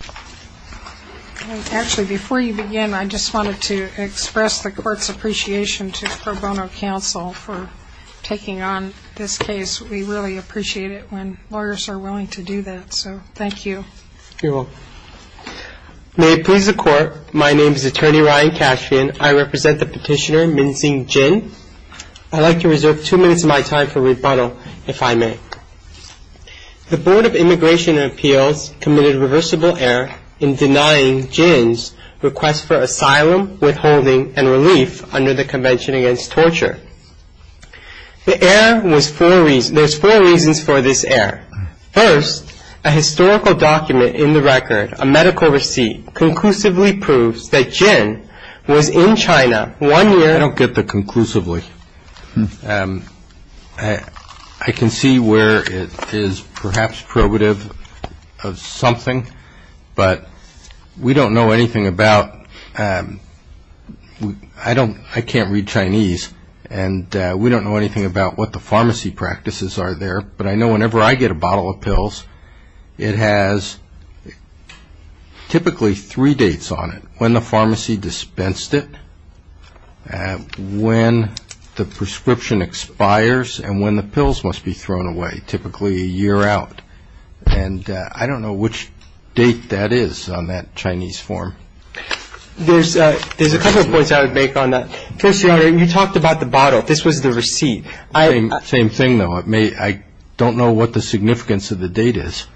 May it please the Court, my name is Attorney Ryan Cashvian. I represent the petitioner Min-Sing Jin. I'd like to reserve two minutes of my time for rebuttal, if I may. The Board of Immigration and Appeals committed reversible error in denying Jin's request for asylum, withholding and relief under the Convention Against Torture. There's four reasons for this error. First, a historical document in the record, a medical receipt, conclusively proves that Jin was in China one year... I don't get the conclusively. I can see where it is perhaps probative of something, but we don't know anything about... I can't read Chinese and we don't know anything about what the pharmacy practices are there, but I know there's typically three dates on it, when the pharmacy dispensed it, when the prescription expires and when the pills must be thrown away, typically a year out. And I don't know which date that is on that Chinese form. There's a couple of points I would make on that. First, Your Honor, you talked about the bottle. This was the receipt. Same thing, though. I don't know what the significance of the date is.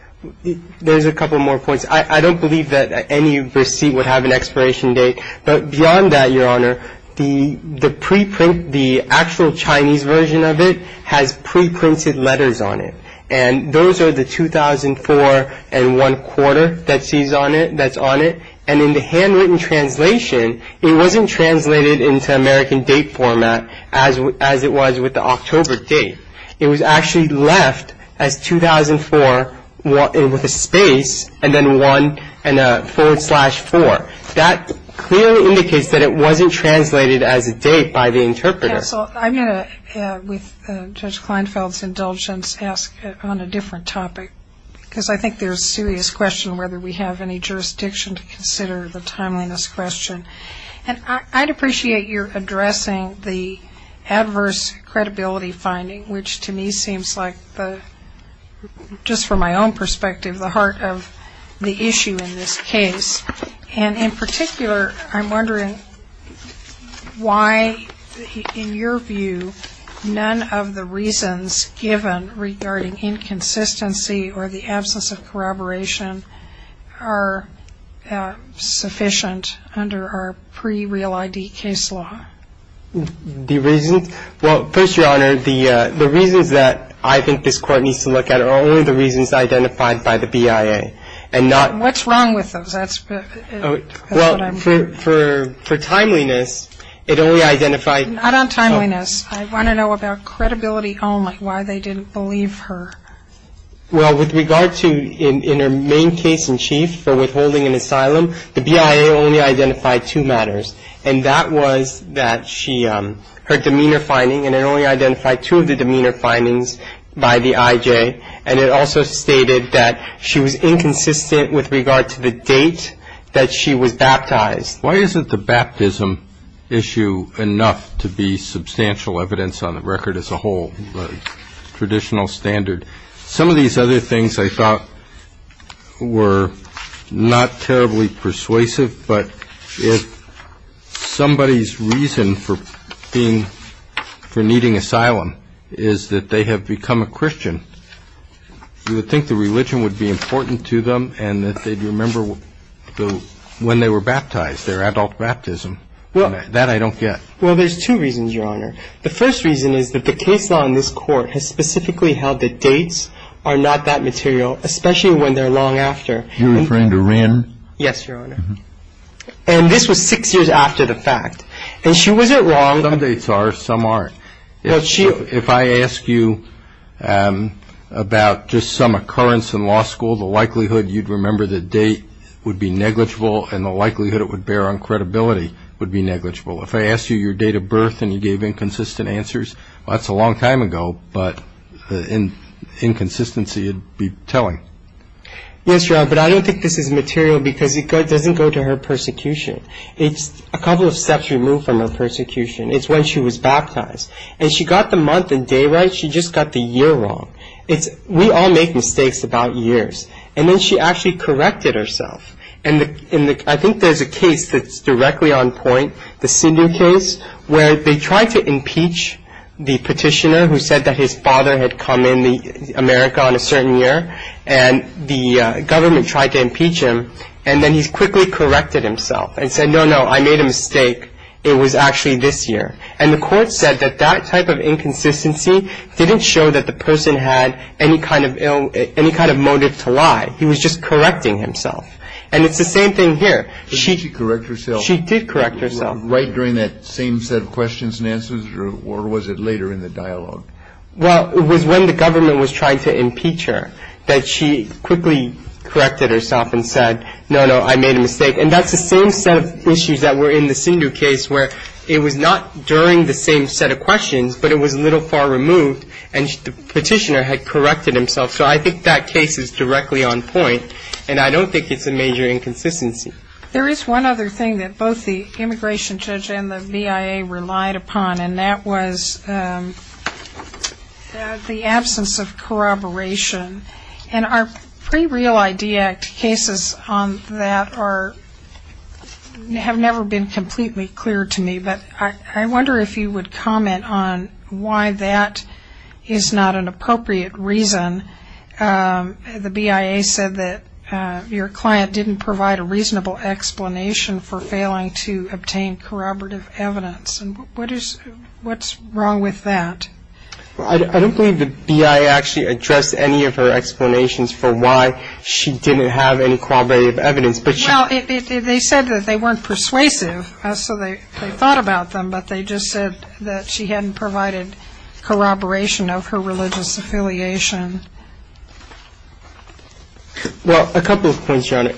There's a couple more points. I don't believe that any receipt would have an expiration date, but beyond that, Your Honor, the preprint, the actual Chinese version of it, has preprinted letters on it. And those are the 2004 and one quarter that's on it. And in the handwritten translation, it wasn't translated into American date format as it was with the October date. It was actually left as 2004 with a space and then one and a forward slash four. That clearly indicates that it wasn't translated as a date by the interpreter. Counsel, I'm going to, with Judge Kleinfeld's indulgence, ask on a different topic because I think there's a serious question whether we have any jurisdiction to consider the timeliness question. And I'd appreciate your addressing the adverse credibility finding, which to me seems like, just from my own perspective, the heart of the issue in this case. And in particular, I'm wondering why, in your view, none of the reasons given regarding inconsistency or the absence of corroboration are sufficient under our pre-real ID case law? The reasons? Well, first, Your Honor, the reasons that I think this Court needs to look at are only the reasons identified by the BIA. And not What's wrong with those? That's what I'm Well, for timeliness, it only identified Not on timeliness. I want to know about credibility only, why they didn't believe her. Well, with regard to, in her main case in chief for withholding an asylum, the BIA only identified two matters. And that was that she, her demeanor finding, and it only identified two of the demeanor findings by the IJ. And it also stated that she was inconsistent with regard to the date that she was baptized. Why isn't the baptism issue enough to be substantial evidence on the record as a whole, the Some of these other things, I thought, were not terribly persuasive. But if somebody's reason for being, for needing asylum is that they have become a Christian, you would think the religion would be important to them and that they'd remember when they were baptized, their adult baptism. That I don't get. Well, there's two reasons, Your Honor. The first reason is that the case law in this case are not that material, especially when they're long after. You're referring to Wren? Yes, Your Honor. And this was six years after the fact. And she wasn't wrong Some dates are, some aren't. If I ask you about just some occurrence in law school, the likelihood you'd remember the date would be negligible and the likelihood it would bear on credibility would be negligible. If I asked you your date of birth and you gave inconsistent answers, that's a long time ago, but inconsistency would be telling. Yes, Your Honor, but I don't think this is material because it doesn't go to her persecution. It's a couple of steps removed from her persecution. It's when she was baptized. And she got the month and day right, she just got the year wrong. We all make mistakes about years. And then she actually corrected herself. And I think there's a case that's tried to impeach the petitioner who said that his father had come in America on a certain year and the government tried to impeach him. And then he quickly corrected himself and said, no, no, I made a mistake. It was actually this year. And the court said that that type of inconsistency didn't show that the person had any kind of motive to lie. He was just correcting himself. And it's the same thing here. Did she correct herself? She did correct herself. Right during that same set of questions and answers? Or was it later in the dialogue? Well, it was when the government was trying to impeach her that she quickly corrected herself and said, no, no, I made a mistake. And that's the same set of issues that were in the Sindhu case where it was not during the same set of questions, but it was a little far removed. And the petitioner had corrected himself. So I think that case is directly on point. And I don't think it's a major inconsistency. There is one other thing that both the immigration judge and the BIA relied upon, and that was the absence of corroboration. And our pre-Real ID Act cases on that have never been completely clear to me. But I wonder if you would comment on why that is not an appropriate reason. The BIA said that your client didn't provide a reasonable explanation for failing to obtain corroborative evidence. What's wrong with that? I don't believe the BIA actually addressed any of her explanations for why she didn't have any corroborative evidence. Well, they said that they weren't persuasive, so they thought about them. But they just said that she hadn't provided corroboration of her religious affiliation. Well, a couple of points, Your Honor.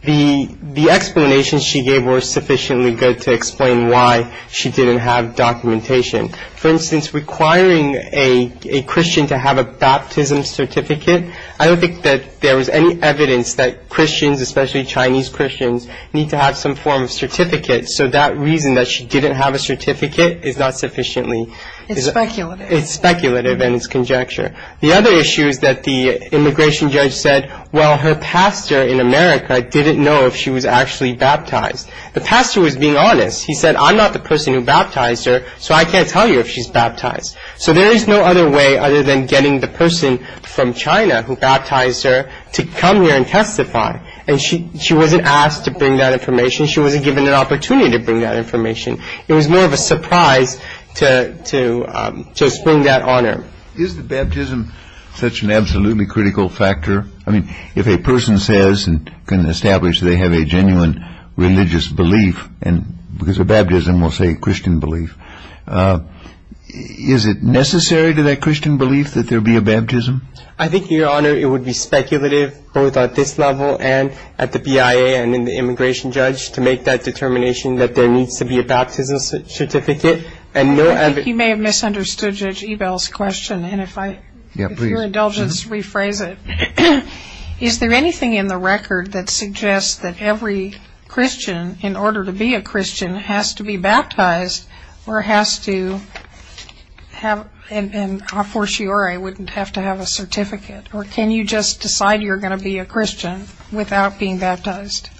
The explanations she gave were sufficiently good to explain why she didn't have documentation. For instance, requiring a Christian to have a baptism certificate, I don't think that there was any evidence that Christians, especially Chinese Christians, need to have some form of certificate. So that reason that she didn't have a certificate is not sufficiently It's speculative. It's speculative and it's conjecture. The other issue is that the immigration judge said, well, her pastor in America didn't know if she was actually baptized. The pastor was being honest. He said, I'm not the person who baptized her, so I can't tell you if she's baptized. So there is no other way other than getting the person from China who baptized her to come here and testify. And she wasn't asked to bring that information. She wasn't given an opportunity to bring that information. It was more of a surprise to just bring that honor. Is the baptism such an absolutely critical factor? I mean, if a person says and can establish they have a genuine religious belief, and because of baptism we'll say Christian belief, is it necessary to that Christian belief that there be a baptism? I think, Your Honor, it would be speculative both at this level and at the BIA and in the determination that there needs to be a baptism certificate and no other... You may have misunderstood Judge Ebel's question, and if your indulgence, rephrase it. Is there anything in the record that suggests that every Christian, in order to be a Christian, has to be baptized or has to have, and a fortiori, wouldn't have to have a certificate? Or can you just decide you're going to be a Christian without being baptized?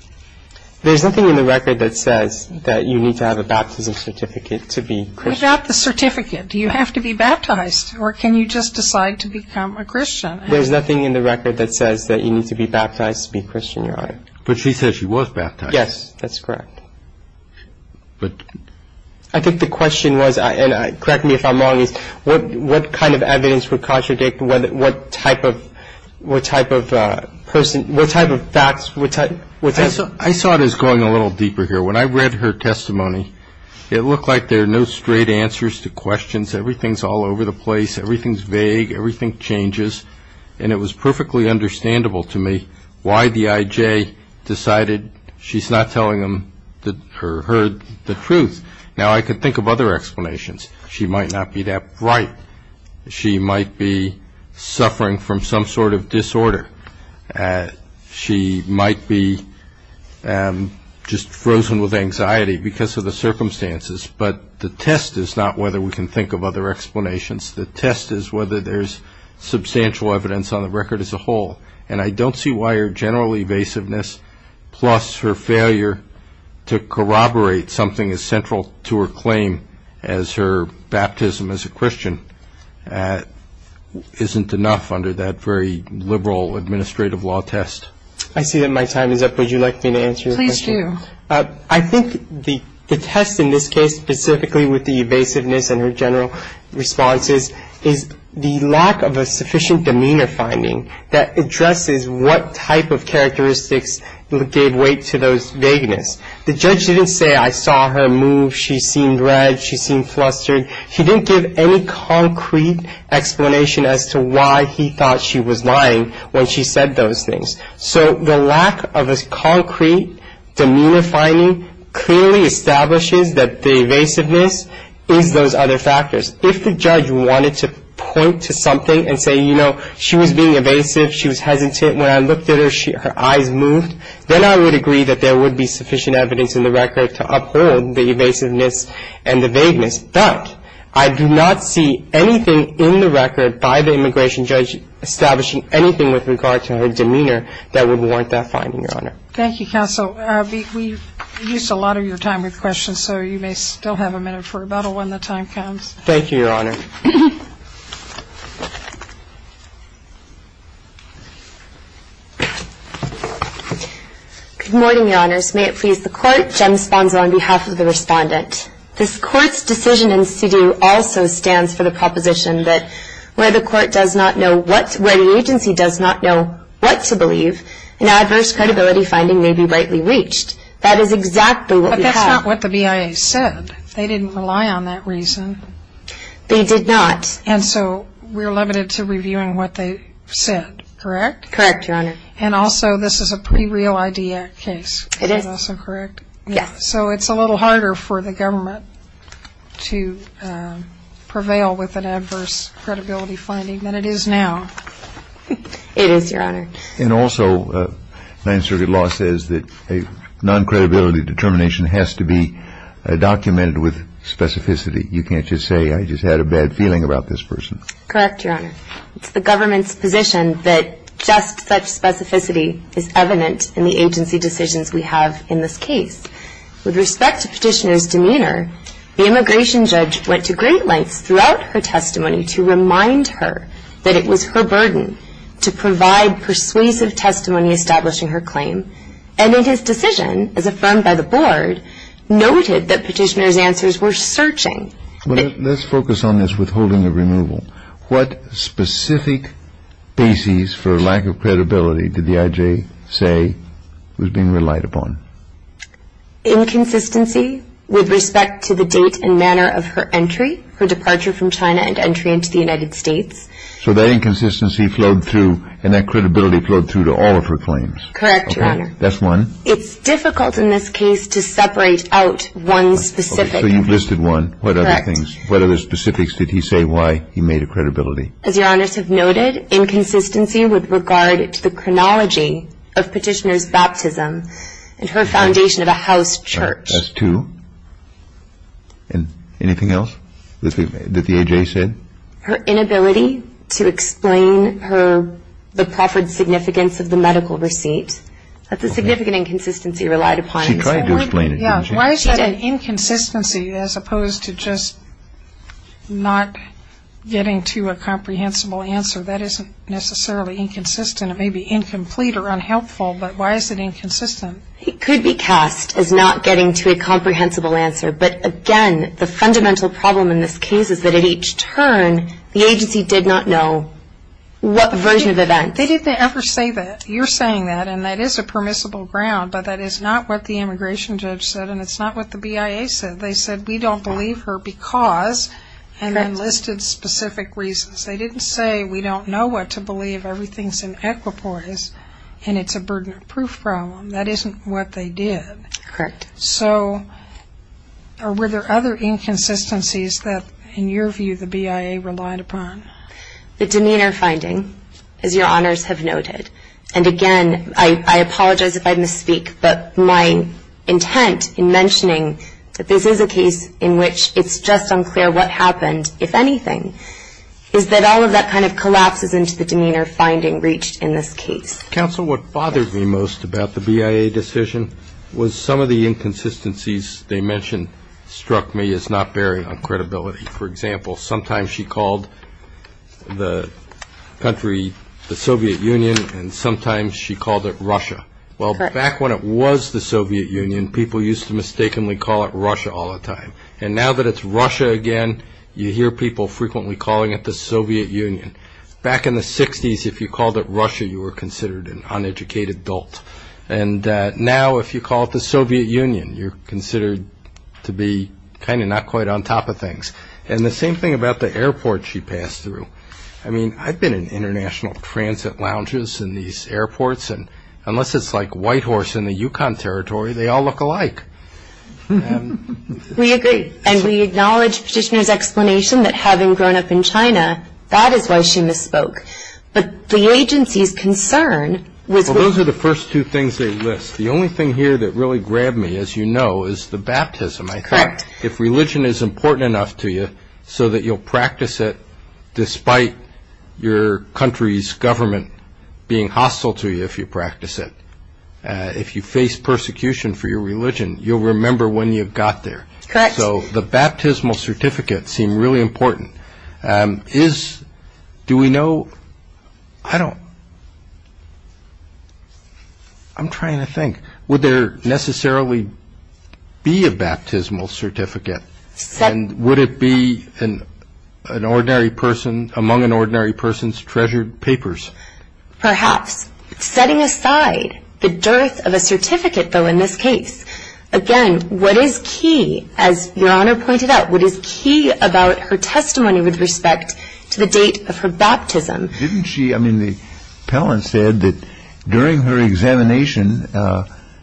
There's nothing in the record that says that you need to have a baptism certificate to be Christian. Without the certificate, do you have to be baptized? Or can you just decide to become a Christian? There's nothing in the record that says that you need to be baptized to be a Christian, Your Honor. But she said she was baptized. Yes, that's correct. But... I think the question was, and correct me if I'm wrong, is what kind of evidence would I saw it as going a little deeper here. When I read her testimony, it looked like there are no straight answers to questions. Everything's all over the place. Everything's vague. Everything changes. And it was perfectly understandable to me why the I.J. decided she's not telling him the truth. Now I could think of other explanations. She might not be that bright. She might be suffering from some sort of disorder. She might be just frozen with anxiety because of the circumstances. But the test is not whether we can think of other explanations. The test is whether there's substantial evidence on the record as a whole. And I don't see why her general evasiveness plus her failure to corroborate something as central to her claim as her baptism as a Christian isn't enough under that very liberal administrative law test. I see that my time is up. Would you like me to answer your question? Please do. I think the test in this case, specifically with the evasiveness and her general responses, is the lack of a sufficient demeanor finding that addresses what type of characteristics gave weight to those vagueness. The judge didn't say, I saw her move. She seemed red. She seemed flustered. He didn't give any concrete explanation as to why he thought she was lying when she said those things. So the lack of a concrete demeanor finding clearly establishes that the evasiveness is those other factors. If the judge wanted to point to something and say, you know, she was being evasive. She was hesitant. When I looked at her, her eyes moved. Then I would agree that there was vagueness, but I do not see anything in the record by the immigration judge establishing anything with regard to her demeanor that would warrant that finding, Your Honor. Thank you, Counsel. We've reduced a lot of your time with questions, so you may still have a minute for rebuttal when the time comes. Thank you, Your Honor. Good morning, Your Honors. May it please the Court, Jem Sponza on behalf of the Respondent. This Court's decision in situ also stands for the proposition that where the Court does not know what, where the agency does not know what to believe, an adverse credibility finding may be rightly reached. That is exactly what we have. But that's not what the BIA said. They didn't rely on that reason. They did not. And so we're limited to reviewing what they said, correct? Correct, Your Honor. And also, this is a pre-Real ID Act case. It is. Is that also correct? Yes. So it's a little harder for the government to prevail with an adverse credibility finding than it is now. It is, Your Honor. And also, Ninth Circuit law says that a non-credibility determination has to be documented with specificity. You can't just say, I just had a bad feeling about this person. Correct, Your Honor. It's the government's position that just such specificity is evident in the agency decisions we have in this case. With respect to Petitioner's demeanor, the immigration judge went to great lengths throughout her testimony to remind her that it was her burden to provide persuasive testimony establishing her claim. And in his decision, as affirmed by the Board, noted that Petitioner's answers were searching. Let's focus on this withholding of removal. What specific basis for lack of credibility did the I.J. say was being relied upon? Inconsistency with respect to the date and manner of her entry, her departure from China and entry into the United States. So that inconsistency flowed through and that credibility flowed through to all of her claims. Correct, Your Honor. That's one. It's difficult in this case to separate out one specific. So you've listed one. Correct. What other specifics did he say why he made a credibility? As Your Honors have noted, inconsistency with regard to the chronology of Petitioner's baptism and her foundation of a house church. That's two. Anything else that the I.J. said? Her inability to explain her, the proffered significance of the medical receipt. That's a significant inconsistency relied upon. She tried to explain it. Why is that an inconsistency as opposed to just not getting to a comprehensible answer? That isn't necessarily inconsistent. It may be incomplete or unhelpful, but why is it inconsistent? It could be cast as not getting to a comprehensible answer, but again, the fundamental problem in this case is that at each turn, the agency did not know what version of events. They didn't ever say that. You're saying that and that is a permissible ground, but that is not what the immigration judge said and it's not what the BIA said. They said we don't believe her because and then listed specific reasons. They didn't say we don't know what to believe. Everything's in equipoise and it's a burden of proof problem. That isn't what they did. So were there other inconsistencies that, in your view, the BIA relied upon? The demeanor finding, as Your Honors have noted, and again, I apologize if I misspeak, but my intent in mentioning that this is a case in which it's just unclear what happened, if anything, is that all of that kind of collapses into the demeanor finding reached in this case. Counsel, what bothered me most about the BIA decision was some of the inconsistencies they mentioned struck me as not bearing on credibility. For example, sometimes she called the country the Soviet Union and sometimes she called it Russia. Correct. Well, back when it was the Soviet Union, people used to mistakenly call it Russia all the time. And now that it's Russia again, you hear people frequently calling it the Soviet Union. Back in the 60s, if you called it Russia, you were considered an uneducated adult. And now if you call it the Soviet Union, you're considered to be kind of not quite on top of things. And the same thing about the airport she passed through. I mean, I've been in international transit lounges in these airports, and unless it's like Whitehorse in the Yukon Territory, they all look alike. We agree. And we acknowledge Petitioner's explanation that having grown up in China, that is why she misspoke. But the agency's concern was... Well, those are the first two things they list. The only thing here that really grabbed me, as you know, is the baptism. Correct. If religion is important enough to you so that you'll practice it despite your country's government being hostile to you if you practice it, if you face persecution for your religion, you'll remember when you got there. Correct. So the baptismal certificates seem really important. Do we know... I don't... I'm trying to think. Would there necessarily be a baptismal certificate? And would it be among an ordinary person's treasured papers? Perhaps. Setting aside the dearth of a certificate, though, in this case, again, what is key, as Your Honor pointed out, what is key about her testimony with respect to the date of her baptism? Didn't she... I mean, the appellant said that during her examination,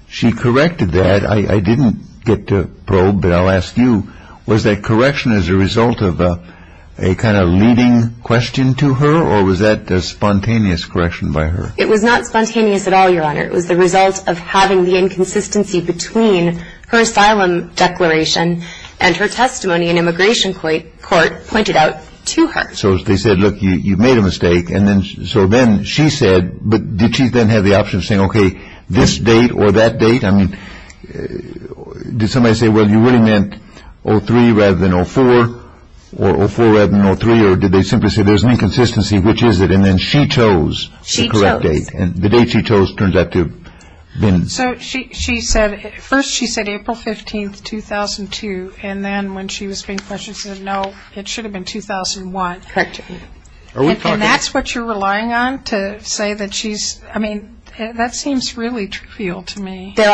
she corrected that. I didn't get to probe, but I'll ask you, was that correction as a result of a kind of leading question to her, or was that a spontaneous correction by her? It was not spontaneous at all, Your Honor. It was the result of having the inconsistency between her asylum declaration and her testimony in immigration court pointed out to her. So they said, look, you've made a mistake. And then... So then she said... But did she then have the option of saying, okay, this date or that date? I mean, did somebody say, well, you really meant 03 rather than 04, or 04 rather than 03? Or did they simply say there's an inconsistency? Which is it? And then she chose the correct date. She chose. And the date she chose turns out to have been... So she said... First, she said April 15th, 2002, and then when she was being questioned, she said, no, it should have been 2001. Correct. Are we talking... And that's what you're relying on to say that she's... I mean, that seems really trivial to me. There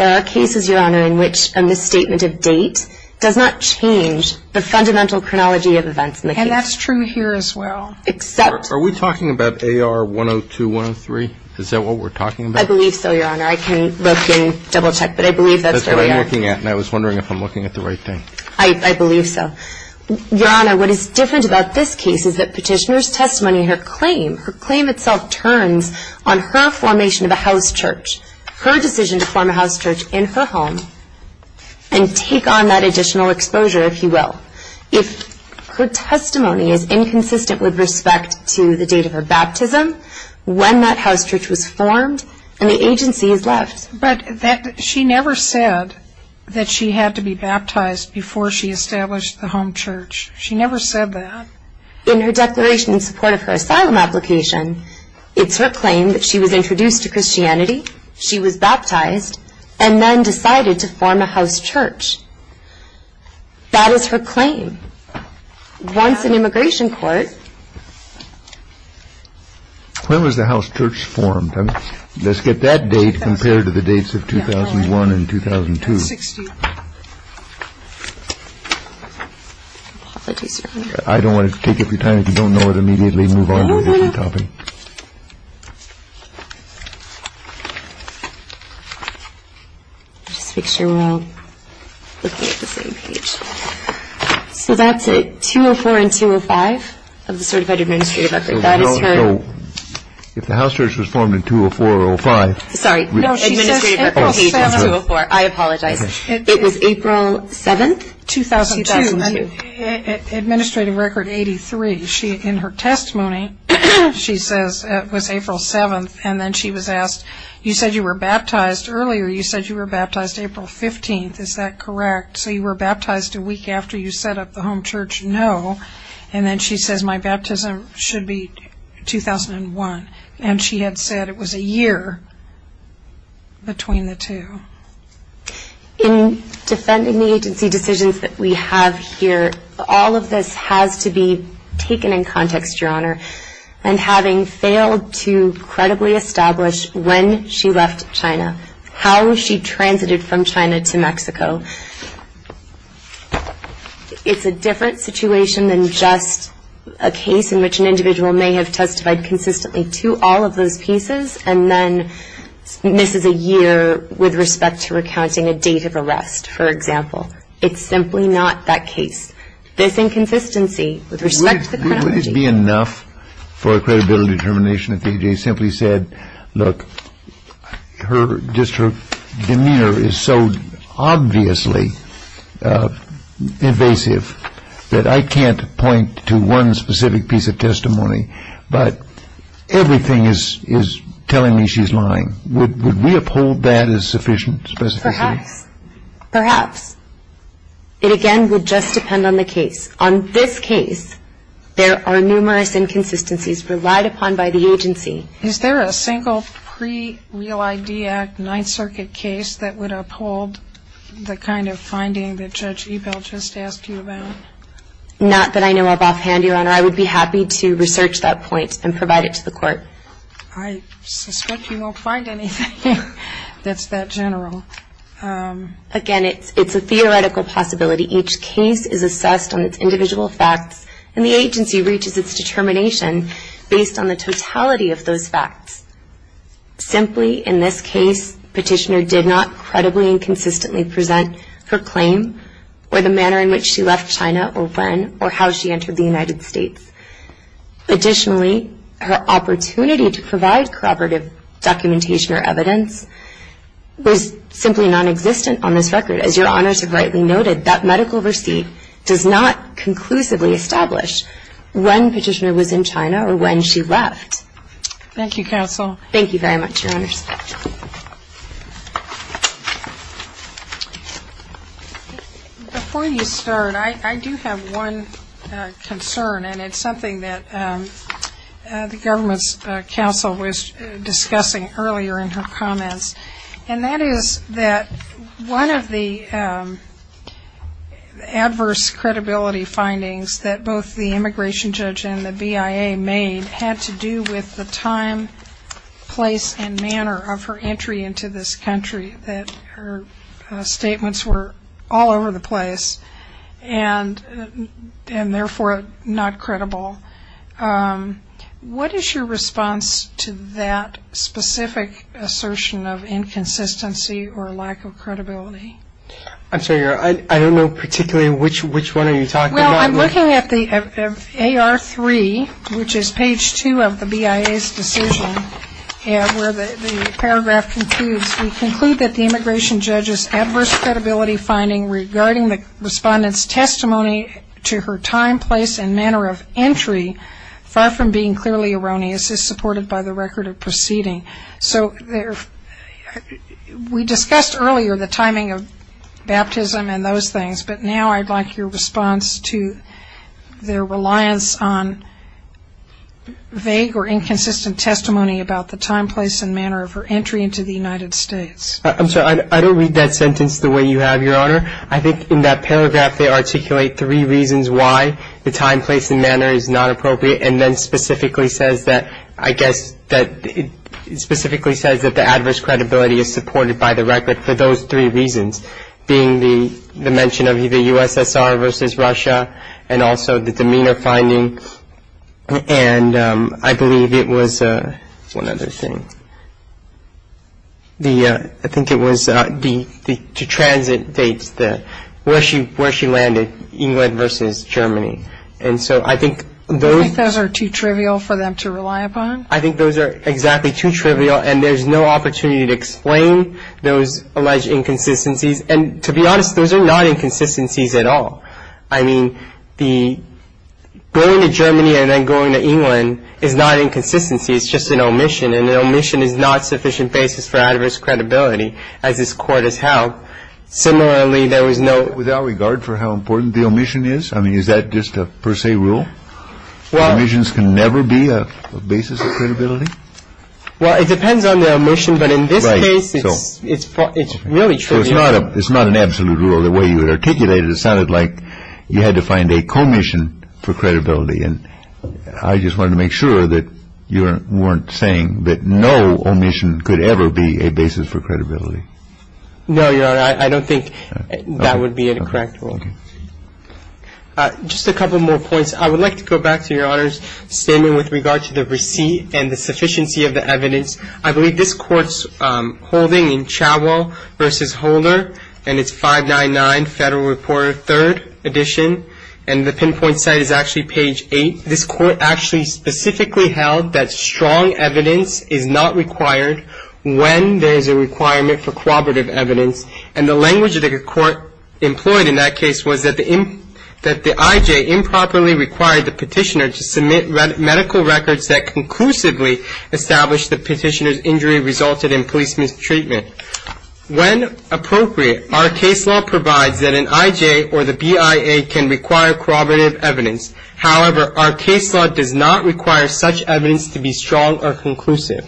are cases, Your Honor, in which a misstatement of date does not change the fundamental chronology of events in the case. And that's true here as well. Except... Are we talking about AR 102, 103? Is that what we're talking about? I believe so, Your Honor. I can look and double-check, but I believe that's what we are. That's what I'm looking at, and I was wondering if I'm looking at the right thing. I believe so. Your Honor, what is different about this case is that Petitioner's testimony, her claim, her claim itself turns on her formation of a house church, her decision to form a house church in her home, and take on that additional exposure, if you will. If her testimony is inconsistent with respect to the date of her baptism, when that house church was formed, then the agency is left. But she never said that she had to be baptized before she established the home church. She never said that. In her declaration in support of her asylum application, it's her claim that she was introduced to Christianity, she was baptized, and then decided to form a house church. That is her claim. Once in immigration court... When was the house church formed? Let's get that date compared to the dates of 2001 and 2002. I apologize, Your Honor. I don't want to take up your time. If you don't know it immediately, move on to a different topic. Just make sure we're all looking at the same page. So that's it, 204 and 205 of the certified administrative record. If the house church was formed in 204 or 205... Sorry, administrative record page is 204. I apologize. It was April 7th, 2002. Administrative record 83. In her testimony, she says it was April 7th. And then she was asked, you said you were baptized earlier. You said you were baptized April 15th, is that correct? So you were baptized a week after you set up the home church? No. And then she says my baptism should be 2001. And she had said it was a year between the two. In defending the agency decisions that we have here, all of this has to be taken in context, Your Honor. And having failed to credibly establish when she left China, how she transited from China to Mexico, it's a different situation than just a case in which an individual may have testified consistently to all of those pieces and then misses a year with respect to recounting a date of arrest, for example. It's simply not that case. This inconsistency with respect to the chronology... Wouldn't it be enough for a credibility determination if AJ simply said, look, her demeanor is so obviously invasive that I can't point to one specific piece of testimony, but everything is telling me she's lying. Would we uphold that as sufficient specificity? Perhaps. Perhaps. It again would just depend on the case. On this case, there are numerous inconsistencies relied upon by the agency. Is there a single pre-Real ID Act Ninth Circuit case that would uphold the kind of finding that Judge Ebell just asked you about? Not that I know of offhand, Your Honor. I would be happy to research that point and provide it to the court. I suspect you won't find anything that's that general. Again, it's a theoretical possibility. Each case is assessed on its individual facts, and the agency reaches its determination based on the totality of those facts. Simply, in this case, Petitioner did not credibly and consistently present her claim or the manner in which she left China or when or how she entered the United States. Additionally, her opportunity to provide corroborative documentation or evidence was simply nonexistent on this record. As Your Honors have rightly noted, that medical receipt does not conclusively establish when Petitioner was in China or when she left. Thank you, Counsel. Thank you very much, Your Honors. Before you start, I do have one concern, and it's something that the government's counsel was discussing earlier in her comments. And that is that one of the adverse credibility findings that both the immigration judge and the BIA made had to do with the time, place, and manner of her entry into this country, that her statements were all over the place, and therefore not credible. What is your response to that specific assertion of inconsistency or lack of credibility? I'm sorry, Your Honor. I don't know particularly which one are you talking about. Well, I'm looking at the AR-3, which is page two of the BIA's decision, where the paragraph concludes, we conclude that the immigration judge's adverse credibility finding regarding the respondent's testimony to her time, place, and manner of entry, far from being clearly erroneous, is supported by the record of proceeding. So we discussed earlier the timing of baptism and those things, but now I'd like your response to their reliance on vague or inconsistent testimony about the time, place, and manner of her entry into the United States. I'm sorry, I don't read that sentence the way you have, Your Honor. I think in that paragraph they articulate three reasons why the time, place, and manner is not appropriate, and then specifically says that, I guess, specifically says that the adverse credibility is supported by the record for those three reasons, being the mention of the USSR versus Russia, and also the demeanor finding, and I believe it was one other thing. I think it was the transit dates, where she landed, England versus Germany, and so I think those... You think those are too trivial for them to rely upon? I think those are exactly too trivial, and there's no opportunity to explain those alleged inconsistencies, and to be honest, those are not inconsistencies at all. I mean, going to Germany and then going to England is not inconsistency, it's just an omission, and an omission is not sufficient basis for adverse credibility, as this Court has held. Similarly, there is no... Without regard for how important the omission is? I mean, is that just a per se rule? Well... Omissions can never be a basis of credibility? Well, it depends on the omission, but in this case, it's really trivial. It's not an absolute rule, the way you had articulated it. It sounded like you had to find a commission for credibility, and I just wanted to make sure that you weren't saying that no omission could ever be a basis for credibility. No, Your Honor, I don't think that would be a correct rule. Just a couple more points. I would like to go back to Your Honor's statement with regard to the receipt and the sufficiency of the evidence. I believe this Court's holding in Chawel v. Holder, and it's 599 Federal Reporter, 3rd edition, and the pinpoint site is actually page 8. This Court actually specifically held that strong evidence is not required when there is a requirement for corroborative evidence, and the language that the Court employed in that case was that the I.J. improperly required the petitioner to submit medical records that conclusively established the petitioner's injury resulted in police mistreatment. When appropriate, our case law provides that an I.J. or the B.I.A. can require corroborative evidence. However, our case law does not require such evidence to be strong or conclusive.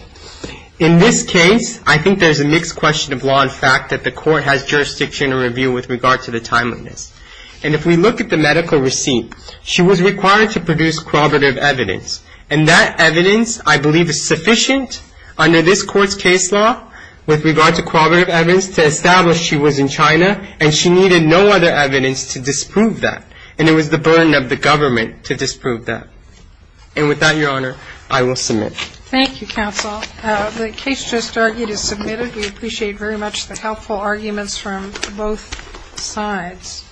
In this case, I think there's a mixed question of law and fact that the Court has jurisdiction to review with regard to the timeliness. And if we look at the medical receipt, she was required to produce corroborative evidence, and that evidence, I believe, is sufficient under this Court's case law with regard to corroborative evidence to establish she was in China, and she needed no other evidence to disprove that, and it was the burden of the government to disprove that. And with that, Your Honor, I will submit. Thank you, Counsel. The case just argued is submitted. We appreciate very much the helpful arguments from both sides.